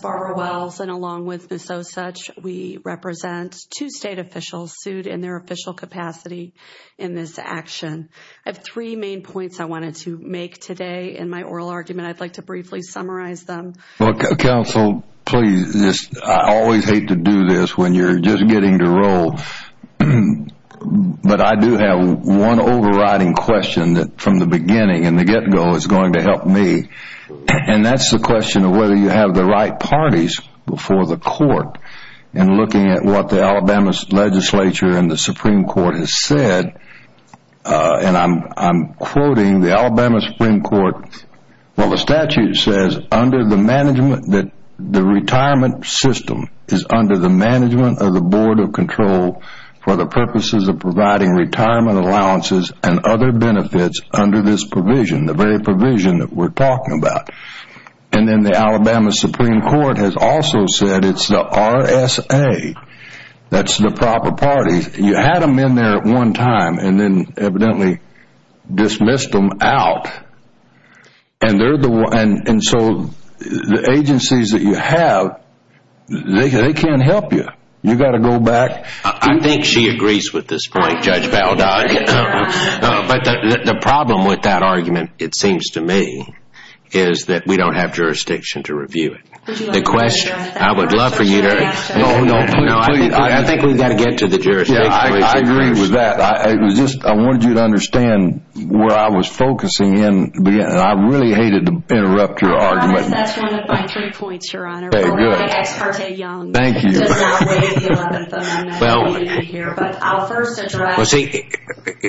Barbara Wells State officials sued in their official capacity in this action. I have three main points I wanted to make today in my oral argument. I'd like to briefly summarize them. Counsel, I always hate to do this when you're just getting to roll, but I do have one overriding question that from the beginning and the get-go is going to help me, and that's the question of whether you have the right parties before the court in looking at what the Alabama legislature and the Supreme Court has said. I'm quoting the Alabama Supreme Court. The statute says that the retirement system is under the management of the Board of Control for the purposes of providing retirement allowances and other benefits under this provision, the very provision that we're talking about. And then the Alabama Supreme Court has also said it's the RSA, that's the proper parties. You had them in there at one time and then evidently dismissed them out. And so the agencies that you have, they can't help you. You've got to go back. I think she agrees with this point, Judge Baldog. But the problem with that argument, it seems to me, is that we don't have jurisdiction to review it. I would love for you to answer that. I think we've got to get to the jurisdiction. I agree with that. I wanted you to understand where I was focusing in. I really hated to interrupt your argument. That's one of my three points, Your Honor. Very good. Or my ex parte young. Thank you. I'm not waiting to hear. But I'll first address... Well, see,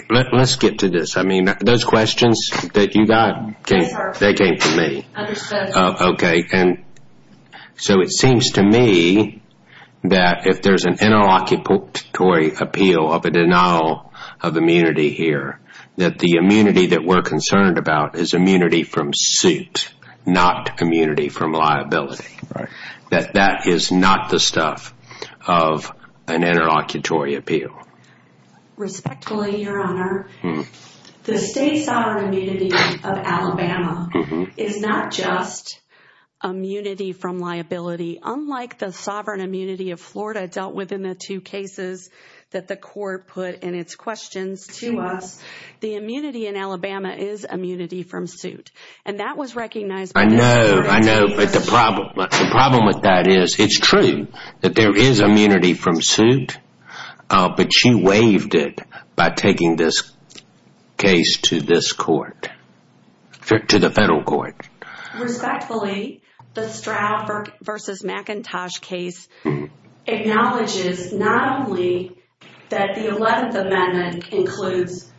let's get to this. I mean, those questions that you got, they came to me. Understood. Okay. And so it seems to me that if there's an interlocutory appeal of a denial of immunity here, that the immunity that we're concerned about is immunity from suit, not immunity from liability. That that is not the stuff of an interlocutory appeal. Respectfully, Your Honor, the state sovereign immunity of Alabama is not just immunity from liability. Unlike the sovereign immunity of Florida dealt with in the two cases that the court put in its questions to us, the immunity in Alabama is immunity from suit. And that was recognized... I know. I know. But the problem with that is, it's true that there is immunity from liability. She waived it by taking this case to this court, to the federal court. Respectfully, the Stroud v. McIntosh case acknowledges not only that the 11th Amendment includes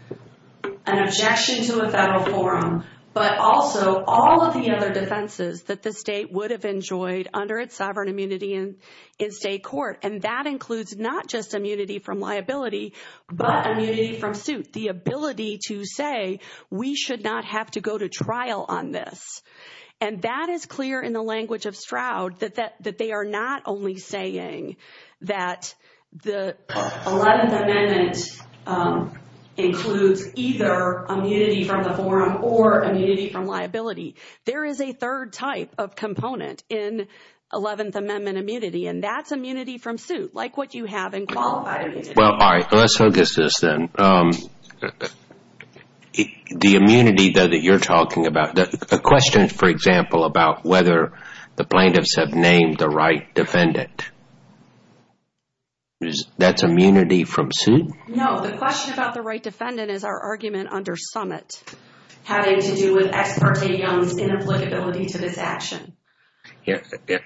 an objection to a federal forum, but also all of the other defenses that the state would have enjoyed under its sovereign immunity in state court. And that includes not just immunity from liability, but immunity from suit, the ability to say we should not have to go to trial on this. And that is clear in the language of Stroud, that they are not only saying that the 11th Amendment includes either immunity from the forum or immunity from liability. There is a third type of component in 11th Amendment immunity, and that's immunity from suit, like what you have in qualified immunity. Well, all right. Let's focus this then. The immunity that you're talking about, the question for example about whether the plaintiffs have named the right defendant, that's immunity from suit? No. The question about the right defendant is our argument under summit, having to do with ex parte on this inapplicability to this action.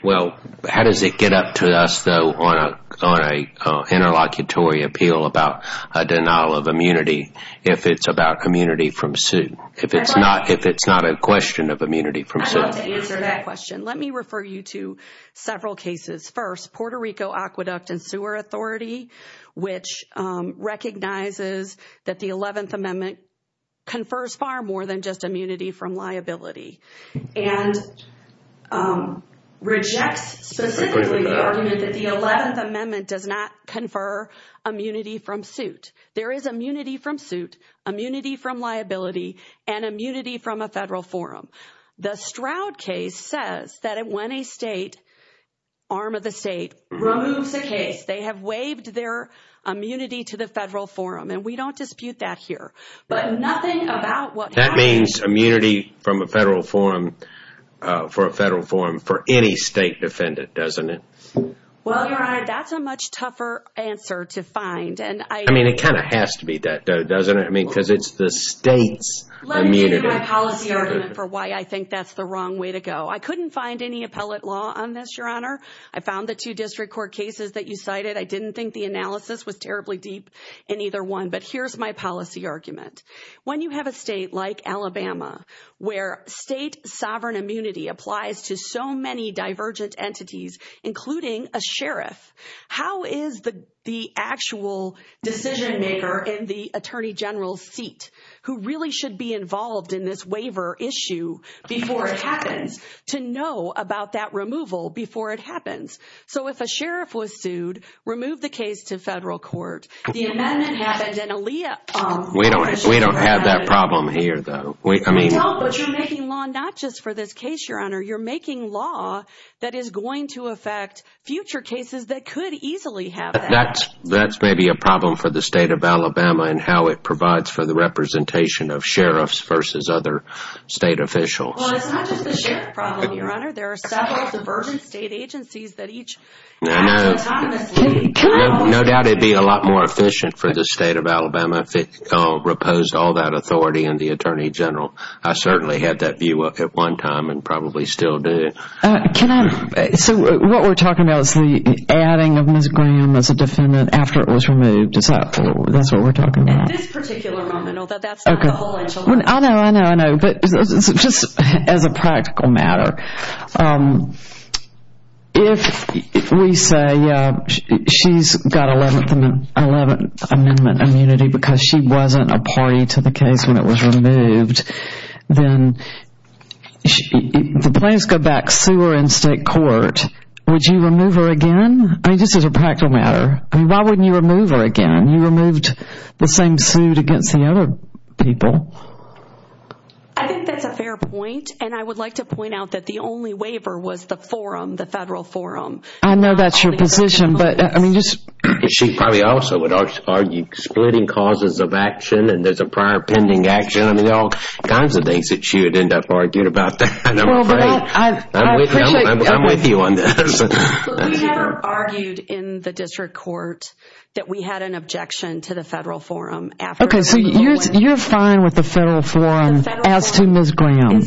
Well, how does it get up to us though on an interlocutory appeal about a denial of immunity if it's about immunity from suit? If it's not a question of immunity from suit? I'd love to answer that question. Let me refer you to several cases. First, Puerto Rico Aqueduct and Sewer Authority, which recognizes that the 11th Amendment confers far more than just rejects specifically the argument that the 11th Amendment does not confer immunity from suit. There is immunity from suit, immunity from liability, and immunity from a federal forum. The Stroud case says that when a state, arm of the state, removes a case, they have waived their immunity to the federal forum, and we don't dispute that here. That means immunity from a federal forum for a federal forum for any state defendant, doesn't it? Well, Your Honor, that's a much tougher answer to find. I mean, it kind of has to be that though, doesn't it? I mean, because it's the state's immunity. Let me give you my policy argument for why I think that's the wrong way to go. I couldn't find any appellate law on this, Your Honor. I found the two district court cases that you cited. I didn't think the analysis was terribly deep in either one. But here's my policy argument. When you have a state like Alabama, where state sovereign immunity applies to so many divergent entities, including a sheriff, how is the actual decision maker in the Attorney General's seat, who really should be involved in this waiver issue before it happens, to know about that removal before it happens? So if a sheriff was sued, remove the case to federal court. We don't have that problem here, though. But you're making law not just for this case, Your Honor. You're making law that is going to affect future cases that could easily have that. That's maybe a problem for the state of Alabama and how it provides for the representation of sheriffs versus other state officials. Well, it's not just the sheriff problem, Your Honor. There are several divergent state agencies I know. No doubt it would be a lot more efficient for the state of Alabama if it reposed all that authority in the Attorney General. I certainly had that view at one time and probably still do. So what we're talking about is the adding of Ms. Graham as a defendant after it was removed. Is that what we're talking about? At this particular moment, although that's not the whole issue. I know, I know, I know. But just as a practical matter, if we say she's got 11th Amendment immunity because she wasn't a party to the case when it was removed, then if the plaintiffs go back, sue her in state court, would you remove her again? I mean, just as a practical matter. I mean, why wouldn't you remove her again? You removed the same suit against the other people. I think that's a fair point. And I would like to point out that the only waiver was the forum, the federal forum. I know that's your position. She probably also would argue splitting causes of action and there's a prior pending action. I mean, all kinds of things that she would end up arguing about. I'm with you on this. We have argued in the district court that we had an objection to the federal forum. Okay, so you're fine with the federal forum as to Ms. Graham.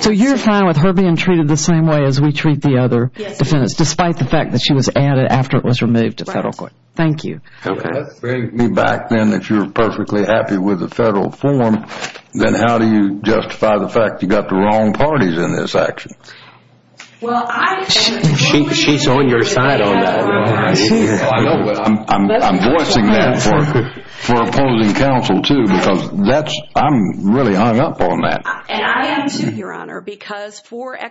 So you're fine with her being treated the same way as we treat the other defendants, despite the fact that she was added after it was removed to federal court. Thank you. Okay, that brings me back then that you're perfectly happy with the federal forum. Then how do you justify the fact you've got the wrong parties in this action? She's on your side on that. I'm voicing that for opposing counsel, too, because I'm really hung up on that. And I am, too, Your Honor. But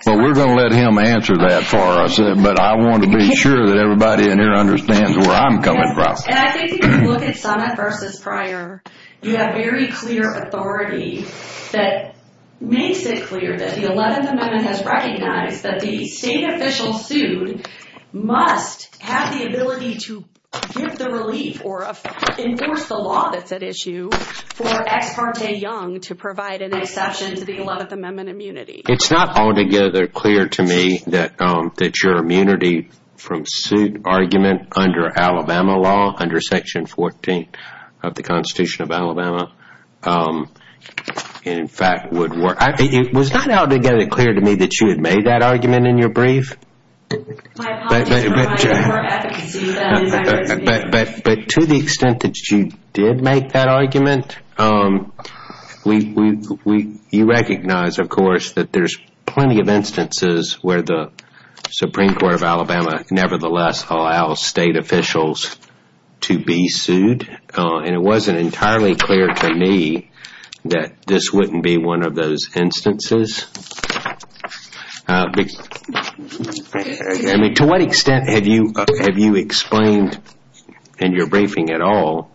we're going to let him answer that for us. But I want to be sure that everybody in here understands where I'm coming from. And I think if you look at summit versus prior, you have very clear authority that makes it clear that the 11th Amendment has recognized that the state official sued must have the ability to give the relief or enforce the law that's at issue for Ex parte Young to provide an exception to the 11th Amendment immunity. It's not altogether clear to me that your immunity from suit argument under Alabama law, under Section 14 of the Constitution of Alabama, in fact, would work. It was not altogether clear to me that you had made that argument in your brief. But to the extent that you did make that argument, you recognize, of course, that there's plenty of instances where the Supreme Court of Alabama nevertheless allows state officials to be sued. And it wasn't entirely clear to me that this wouldn't be one of those instances. I mean, to what extent have you explained in your briefing at all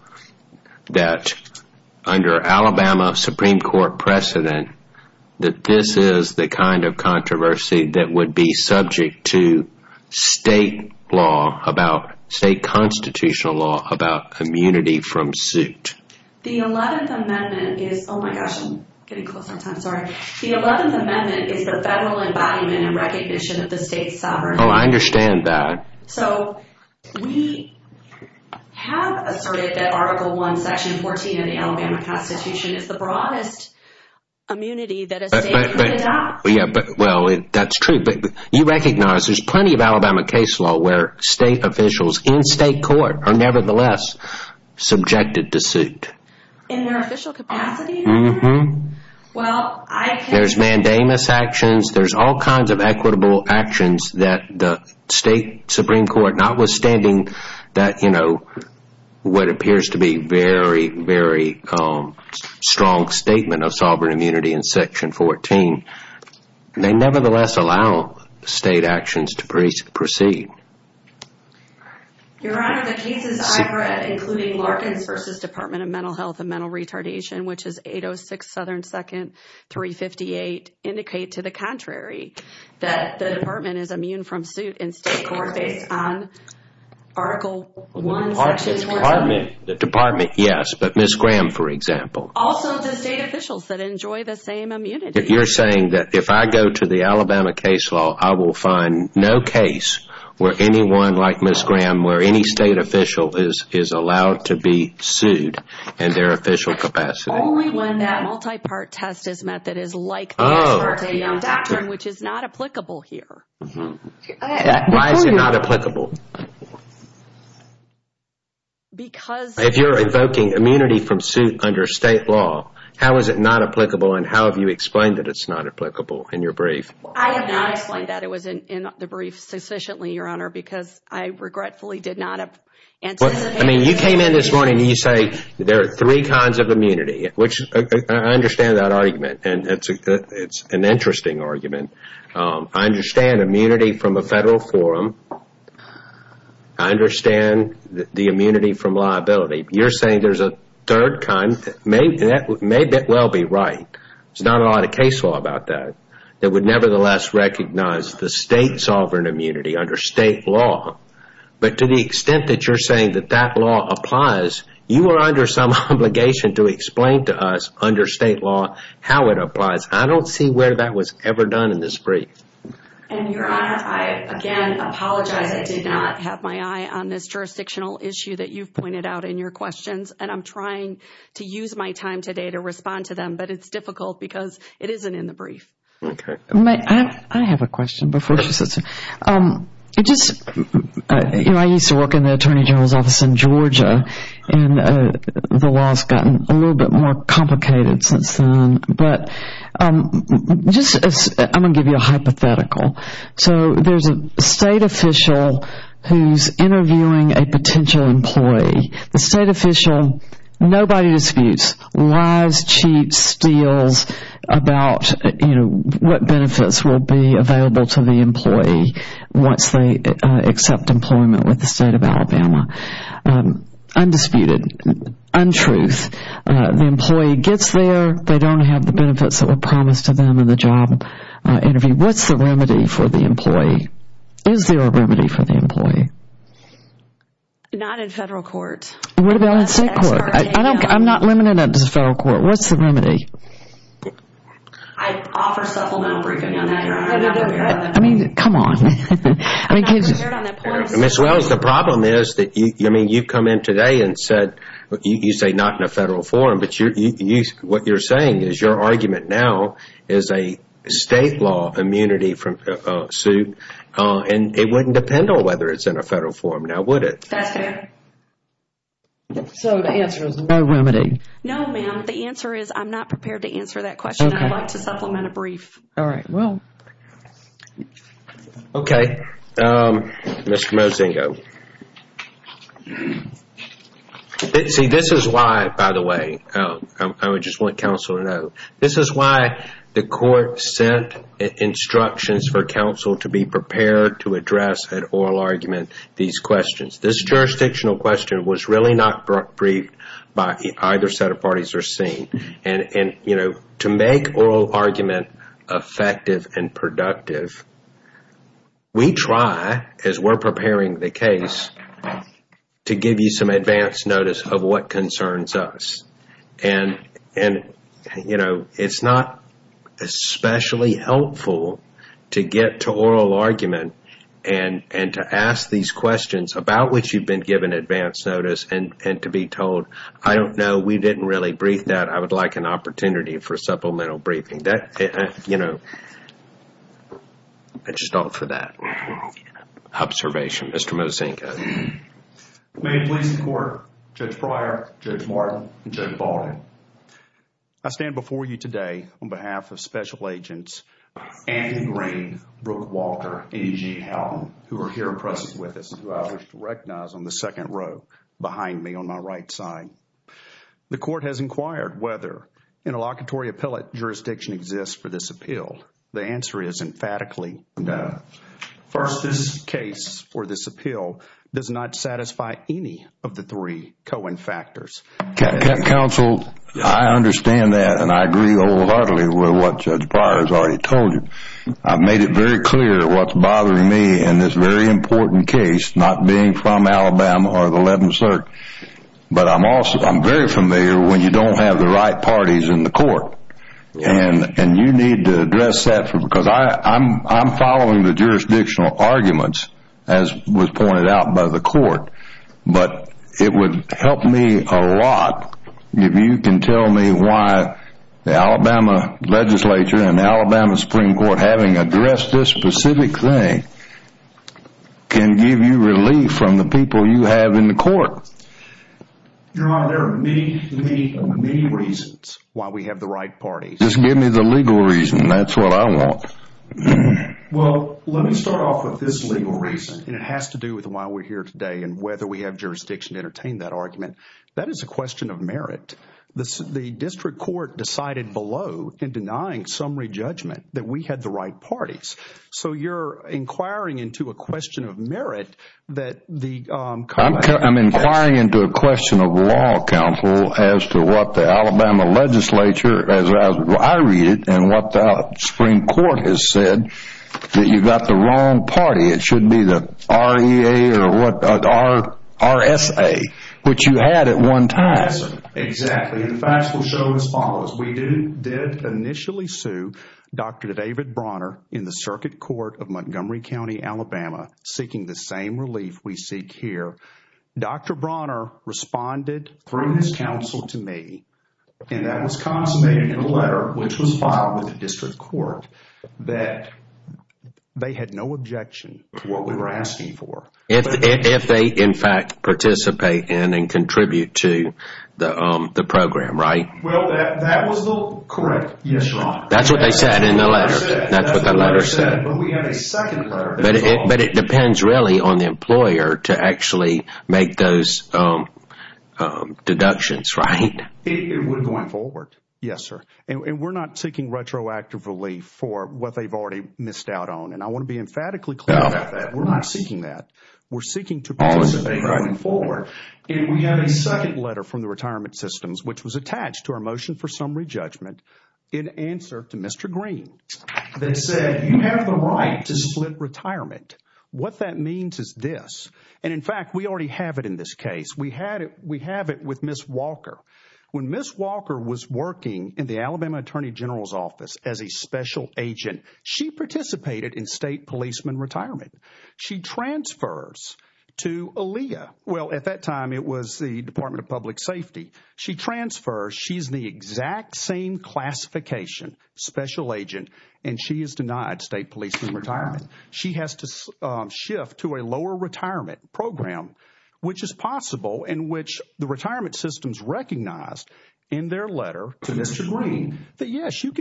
that under Alabama Supreme Court precedent, that this is the kind of controversy that would be subject to state law, about state constitutional law, about immunity from suit? The 11th Amendment is, oh my gosh, I'm getting close, I'm sorry. The 11th Amendment is the federal embodiment and recognition of the state's sovereignty. Oh, I understand that. So we have asserted that Article 1, Section 14 of the Alabama Constitution is the broadest immunity that a state could adopt. Yeah, well, that's true. But you recognize there's plenty of Alabama case law where state officials in state court are nevertheless subjected to suit. In their official capacity? Mm-hmm. There's mandamus actions. There's all kinds of equitable actions that the state Supreme Court, notwithstanding that, you know, what appears to be very, very strong statement of sovereign immunity in Section 14, they nevertheless allow state actions to proceed. Your Honor, the cases I've read, including Larkins v. Department of Mental Health and Mental Retardation, which is 806 Southern 2nd, 358, indicate to the contrary, that the Department is immune from suit in state court based on Article 1, Section 14. The Department, yes, but Ms. Graham, for example. Also the state officials that enjoy the same immunity. You're saying that if I go to the Alabama case law, I will find no case where anyone like Ms. Graham, where any state official is allowed to be sued in their official capacity? Only when that multi-part test is met that is like the ex parte non-doctrine, which is not applicable here. Mm-hmm. Why is it not applicable? If you're evoking immunity from suit under state law, how is it not applicable, and how have you explained that it's not applicable in your brief? I have not explained that. It was in the brief sufficiently, Your Honor, because I regretfully did not anticipate. I mean, you came in this morning and you say there are three kinds of immunity, which I understand that argument, and it's an interesting argument. I understand immunity from a federal forum. I understand the immunity from liability. You're saying there's a third kind that may well be right. There's not a lot of case law about that, that would nevertheless recognize the state sovereign immunity under state law. But to the extent that you're saying that that law applies, you are under some obligation to explain to us under state law how it applies. I don't see where that was ever done in this brief. And, Your Honor, I, again, apologize. I did not have my eye on this jurisdictional issue that you've pointed out in your questions, and I'm trying to use my time today to respond to them, but it's difficult because it isn't in the brief. Okay. I have a question before she sits here. Just, you know, I used to work in the Attorney General's office in Georgia, and the law has gotten a little bit more complicated since then. But just, I'm going to give you a hypothetical. So there's a state official who's interviewing a potential employee. The state official, nobody disputes, lies, cheats, steals about, you know, what benefits will be available to the employee once they accept employment with the state of Alabama. Undisputed. Untruth. The employee gets there. They don't have the benefits that were promised to them in the job interview. What's the remedy for the employee? Is there a remedy for the employee? Not in federal court. What about in state court? I'm not limited to federal court. What's the remedy? I offer supplemental briefing on that. I'm not prepared on that point. I mean, come on. I'm not prepared on that point. Ms. Wells, the problem is that, I mean, you come in today and said, you say not in a federal forum, but what you're saying is your argument now is a state law immunity suit, and it wouldn't depend on whether it's in a federal forum now, would it? That's fair. So the answer is no remedy. No, ma'am. The answer is I'm not prepared to answer that question. I'd like to supplement a brief. All right. Well, okay. Mr. Mozingo. See, this is why, by the way, I would just want counsel to know, this is why the court sent instructions for counsel to be prepared to address an oral argument these questions. This jurisdictional question was really not briefed by either set of parties or seen. And, you know, to make oral argument effective and productive, we try, as we're preparing the case, to give you some advance notice of what concerns us. And, you know, it's not especially helpful to get to oral argument and to ask these questions about which you've been given advance notice and to be told, I don't know, we didn't really brief that. I would like an opportunity for supplemental briefing. You know, I just don't for that observation. Mr. Mozingo. May it please the court, Judge Pryor, Judge Martin, and Judge Baldwin. I stand before you today on behalf of Special Agents Anthony Green, Brooke Walter, and E.J. Houghton, who are here in presence with us and who I wish to recognize on the second row behind me on my right side. The court has inquired whether interlocutory appellate jurisdiction exists for this appeal. The answer is emphatically no. First, this case or this appeal does not satisfy any of the three Cohen factors. Counsel, I understand that, and I agree wholeheartedly with what Judge Pryor has already told you. I've made it very clear what's bothering me in this very important case, not being from Alabama or the 11th Circ, but I'm very familiar when you don't have the right parties in the court, and you need to address that because I'm following the jurisdictional arguments, as was pointed out by the court, but it would help me a lot if you can tell me why the Alabama legislature and the Alabama Supreme Court, having addressed this specific thing, can give you relief from the people you have in the court. Your Honor, there are many, many, many reasons why we have the right parties. Just give me the legal reason. That's what I want. Well, let me start off with this legal reason, and it has to do with why we're here today and whether we have jurisdiction to entertain that argument. That is a question of merit. The district court decided below in denying summary judgment that we had the right parties, so you're inquiring into a question of merit that the college I'm inquiring into a question of law counsel as to what the Alabama legislature, as I read it, and what the Supreme Court has said, that you've got the wrong party. It should be the REA or the RSA, which you had at one time. Yes, sir, exactly, and the facts will show as follows. We did initially sue Dr. David Bronner in the circuit court of Montgomery County, Alabama, seeking the same relief we seek here. Dr. Bronner responded through his counsel to me, and that was consummated in a letter, which was filed with the district court, that they had no objection to what we were asking for. If they, in fact, participate in and contribute to the program, right? Well, that was correct, yes, Your Honor. That's what they said in the letter. That's what the letter said, but we have a second letter. But it depends really on the employer to actually make those deductions, right? It would going forward, yes, sir, and we're not seeking retroactive relief for what they've already missed out on, and I want to be emphatically clear about that. We're not seeking that. We're seeking to participate going forward, and we have a second letter from the retirement systems, which was attached to our motion for summary judgment in answer to Mr. Green, that said, you have the right to split retirement. What that means is this, and in fact, we already have it in this case. We have it with Ms. Walker. When Ms. Walker was working in the Alabama Attorney General's office as a special agent, she participated in state policeman retirement. She transfers to ALEA. Well, at that time, it was the Department of Public Safety. She transfers. She's the exact same classification, special agent, and she is denied state policeman retirement. She has to shift to a lower retirement program, which is possible in which the retirement systems recognized in their letter to Mr. Green that, yes, you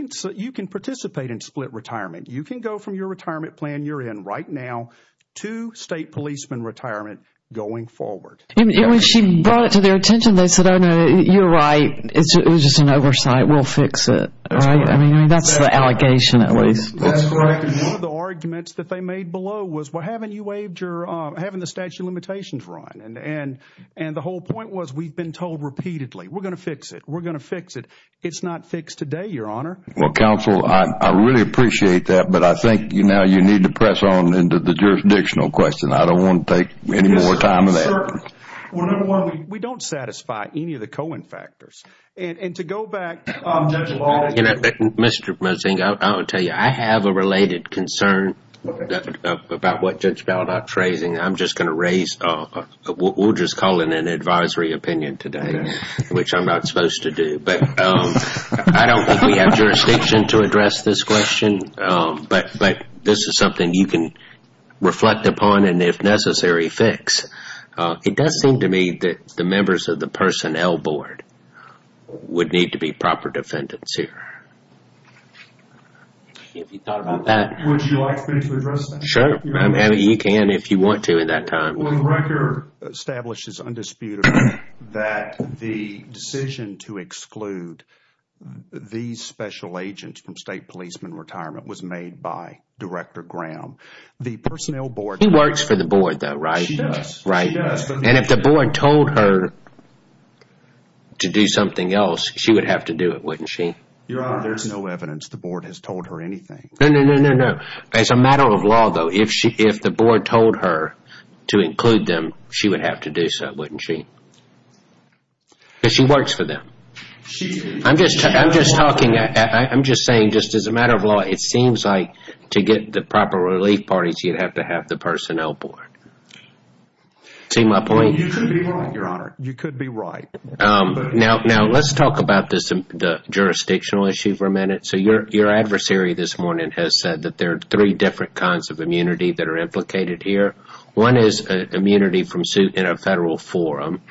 can participate in split retirement. You can go from your retirement plan you're in right now to state policeman retirement going forward. I mean, she brought it to their attention. They said, oh, no, you're right. It was just an oversight. We'll fix it. Right? I mean, that's the allegation, at least. That's right. One of the arguments that they made below was, well, haven't you waived your, haven't the statute of limitations run? And the whole point was, we've been told repeatedly, we're going to fix it. We're going to fix it. It's not fixed today, Your Honor. Well, counsel, I really appreciate that, but I think now you need to press on into the jurisdictional question. I don't want to take any more time than that. We don't satisfy any of the Cohen factors. And to go back, Judge Ball. Mr. Mozingo, I will tell you, I have a related concern about what Judge Ball is phrasing. I'm just going to raise, we'll just call it an advisory opinion today, which I'm not supposed to do. But I don't think we have jurisdiction to address this question, but this is something you can reflect upon and, if necessary, fix. It does seem to me that the members of the personnel board would need to be proper defendants here. Have you thought about that? Would you like for me to address that? Sure. You can if you want to at that time. Well, the record establishes undisputably that the decision to exclude these special agents from state policeman retirement was made by Director Graham. He works for the board, though, right? She does. And if the board told her to do something else, she would have to do it, wouldn't she? Your Honor, there's no evidence the board has told her anything. No, no, no, no, no. As a matter of law, though, if the board told her to include them, she would have to do so, wouldn't she? Because she works for them. I'm just saying, just as a matter of law, it seems like to get the proper relief parties, you'd have to have the personnel board. See my point? You could be wrong, Your Honor. You could be right. Now, let's talk about the jurisdictional issue for a minute. So your adversary this morning has said that there are three different kinds of immunity that are implicated here. One is immunity from suit in a federal forum.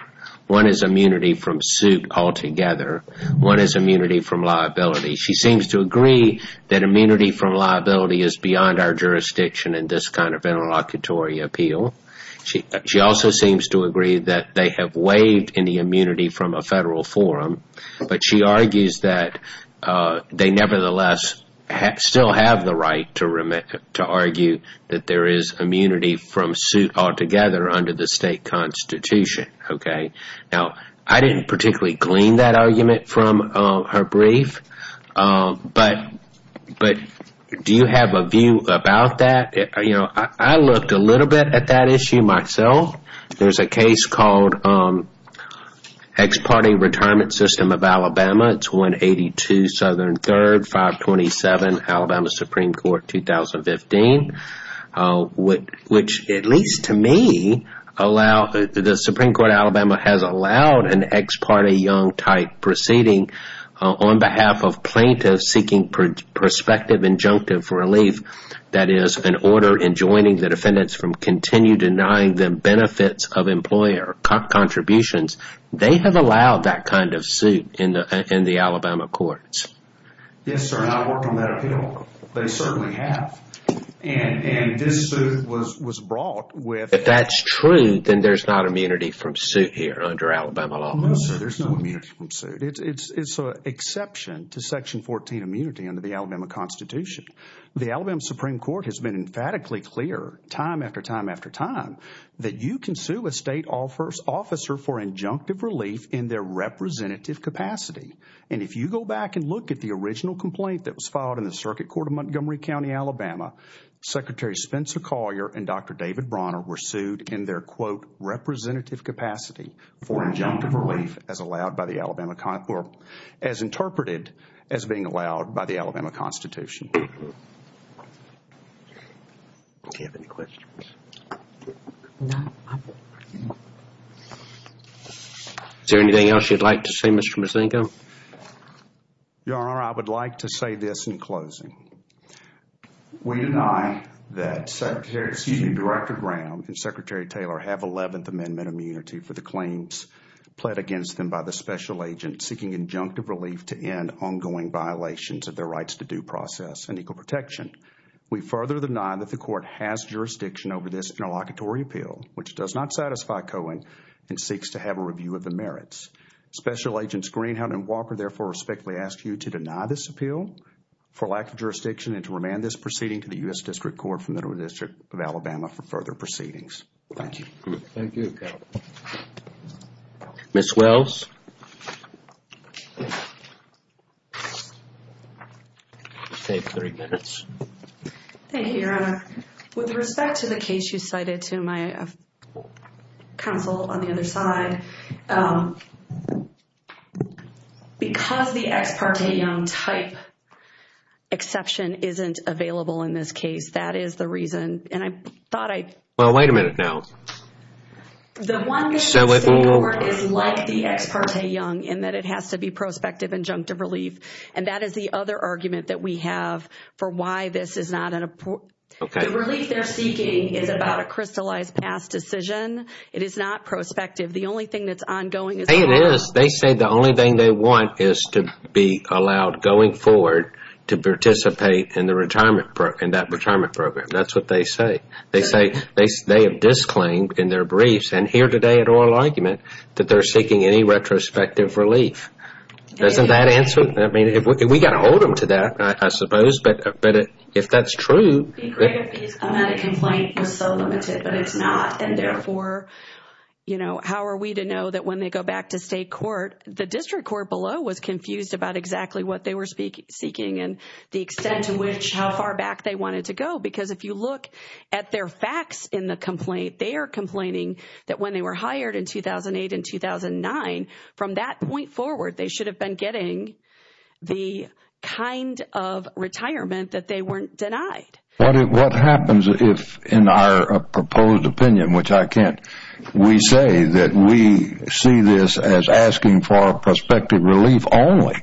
One is immunity from suit altogether. One is immunity from liability. She seems to agree that immunity from liability is beyond our jurisdiction in this kind of interlocutory appeal. She also seems to agree that they have waived any immunity from a federal forum, but she argues that they nevertheless still have the right to argue that there is immunity from suit altogether under the state constitution. Now, I didn't particularly glean that argument from her brief, but do you have a view about that? I looked a little bit at that issue myself. There's a case called Ex Parte Retirement System of Alabama. It's 182 Southern 3rd, 527 Alabama Supreme Court, 2015, which, at least to me, the Supreme Court of Alabama has allowed an ex parte young type proceeding on behalf of plaintiffs seeking prospective injunctive relief. That is, an order enjoining the defendants from continue denying them benefits of employer contributions. They have allowed that kind of suit in the Alabama courts. Yes, sir, and I work on that appeal. They certainly have. And this suit was brought with... If that's true, then there's not immunity from suit here under Alabama law. No, sir, there's no immunity from suit. It's an exception to section 14 immunity under the Alabama constitution. The Alabama Supreme Court has been emphatically clear, time after time after time, that you can sue a state officer for injunctive relief in their representative capacity. And if you go back and look at the original complaint that was filed in the circuit court of Montgomery County, Alabama, Secretary Spencer Collier and Dr. David Bronner were sued in their, quote, Do you have any questions? No. Is there anything else you'd like to say, Mr. Misenko? Your Honor, I would like to say this in closing. We deny that Secretary, excuse me, Director Graham and Secretary Taylor have 11th Amendment immunity for the claims pled against them by the special agent seeking injunctive relief to end ongoing violations of their rights to due process and equal protection. We further deny that the court has jurisdiction over this interlocutory appeal, which does not satisfy Cohen and seeks to have a review of the merits. Special Agents Greenhound and Walker therefore respectfully ask you to deny this appeal for lack of jurisdiction and to remand this proceeding to the U.S. District Court from the District of Alabama for further proceedings. Thank you. Thank you. Ms. Wells. You have three minutes. Thank you, Your Honor. With respect to the case you cited to my counsel on the other side, because the ex parte young type exception isn't available in this case, that is the reason. Well, wait a minute now. The one that the state court is like the ex parte young in that it has to be prospective injunctive relief, and that is the other argument that we have for why this is not an appropriate. The relief they're seeking is about a crystallized past decision. It is not prospective. The only thing that's ongoing is the law. It is. They say the only thing they want is to be allowed going forward to participate in that retirement program. That's what they say. They say they have disclaimed in their briefs and here today at oral argument that they're seeking any retrospective relief. Doesn't that answer it? I mean, we've got to hold them to that, I suppose, but if that's true. It would be great if a medical complaint was so limited, but it's not. And therefore, you know, how are we to know that when they go back to state court, the district court below was confused about exactly what they were seeking and the extent to which how far back they wanted to go. Because if you look at their facts in the complaint, they are complaining that when they were hired in 2008 and 2009, from that point forward they should have been getting the kind of retirement that they weren't denied. What happens if in our proposed opinion, which I can't, we say that we see this as asking for prospective relief only,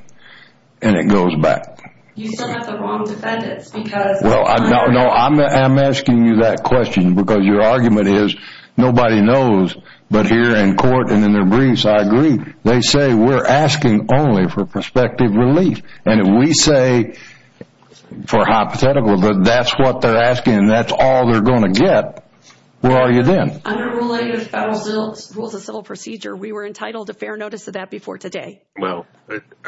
and it goes back? You still have the wrong defendants because Well, no, I'm asking you that question because your argument is nobody knows. But here in court and in their briefs, I agree. They say we're asking only for prospective relief. And we say for hypothetical, but that's what they're asking and that's all they're going to get. Where are you then? Under related federal rules of civil procedure, we were entitled to fair notice of that before today. Well,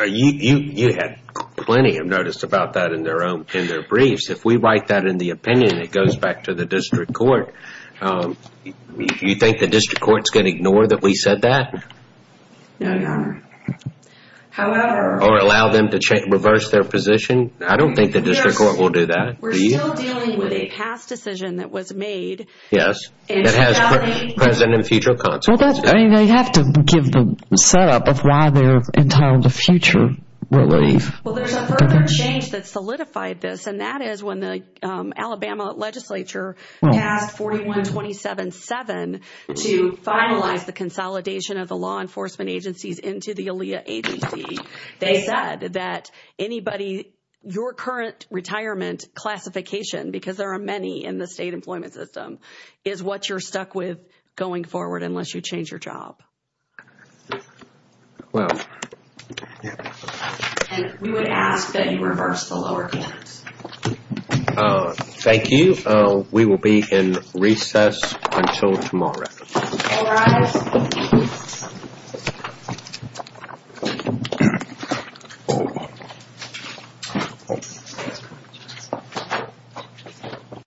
you had plenty of notice about that in their briefs. If we write that in the opinion, it goes back to the district court. Do you think the district court is going to ignore that we said that? No, Your Honor. Or allow them to reverse their position? I don't think the district court will do that. We're still dealing with a past decision that was made. Yes, it has present and future consequences. They have to give the setup of why they're entitled to future relief. Well, there's a further change that solidified this, and that is when the Alabama legislature passed 4127-7 to finalize the consolidation of the law enforcement agencies into the ALEA agency. They said that anybody, your current retirement classification, because there are many in the state employment system, is what you're stuck with going forward unless you change your job. Well, yeah. And we would ask that you reverse the lower case. Thank you. We will be in recess until tomorrow. All rise.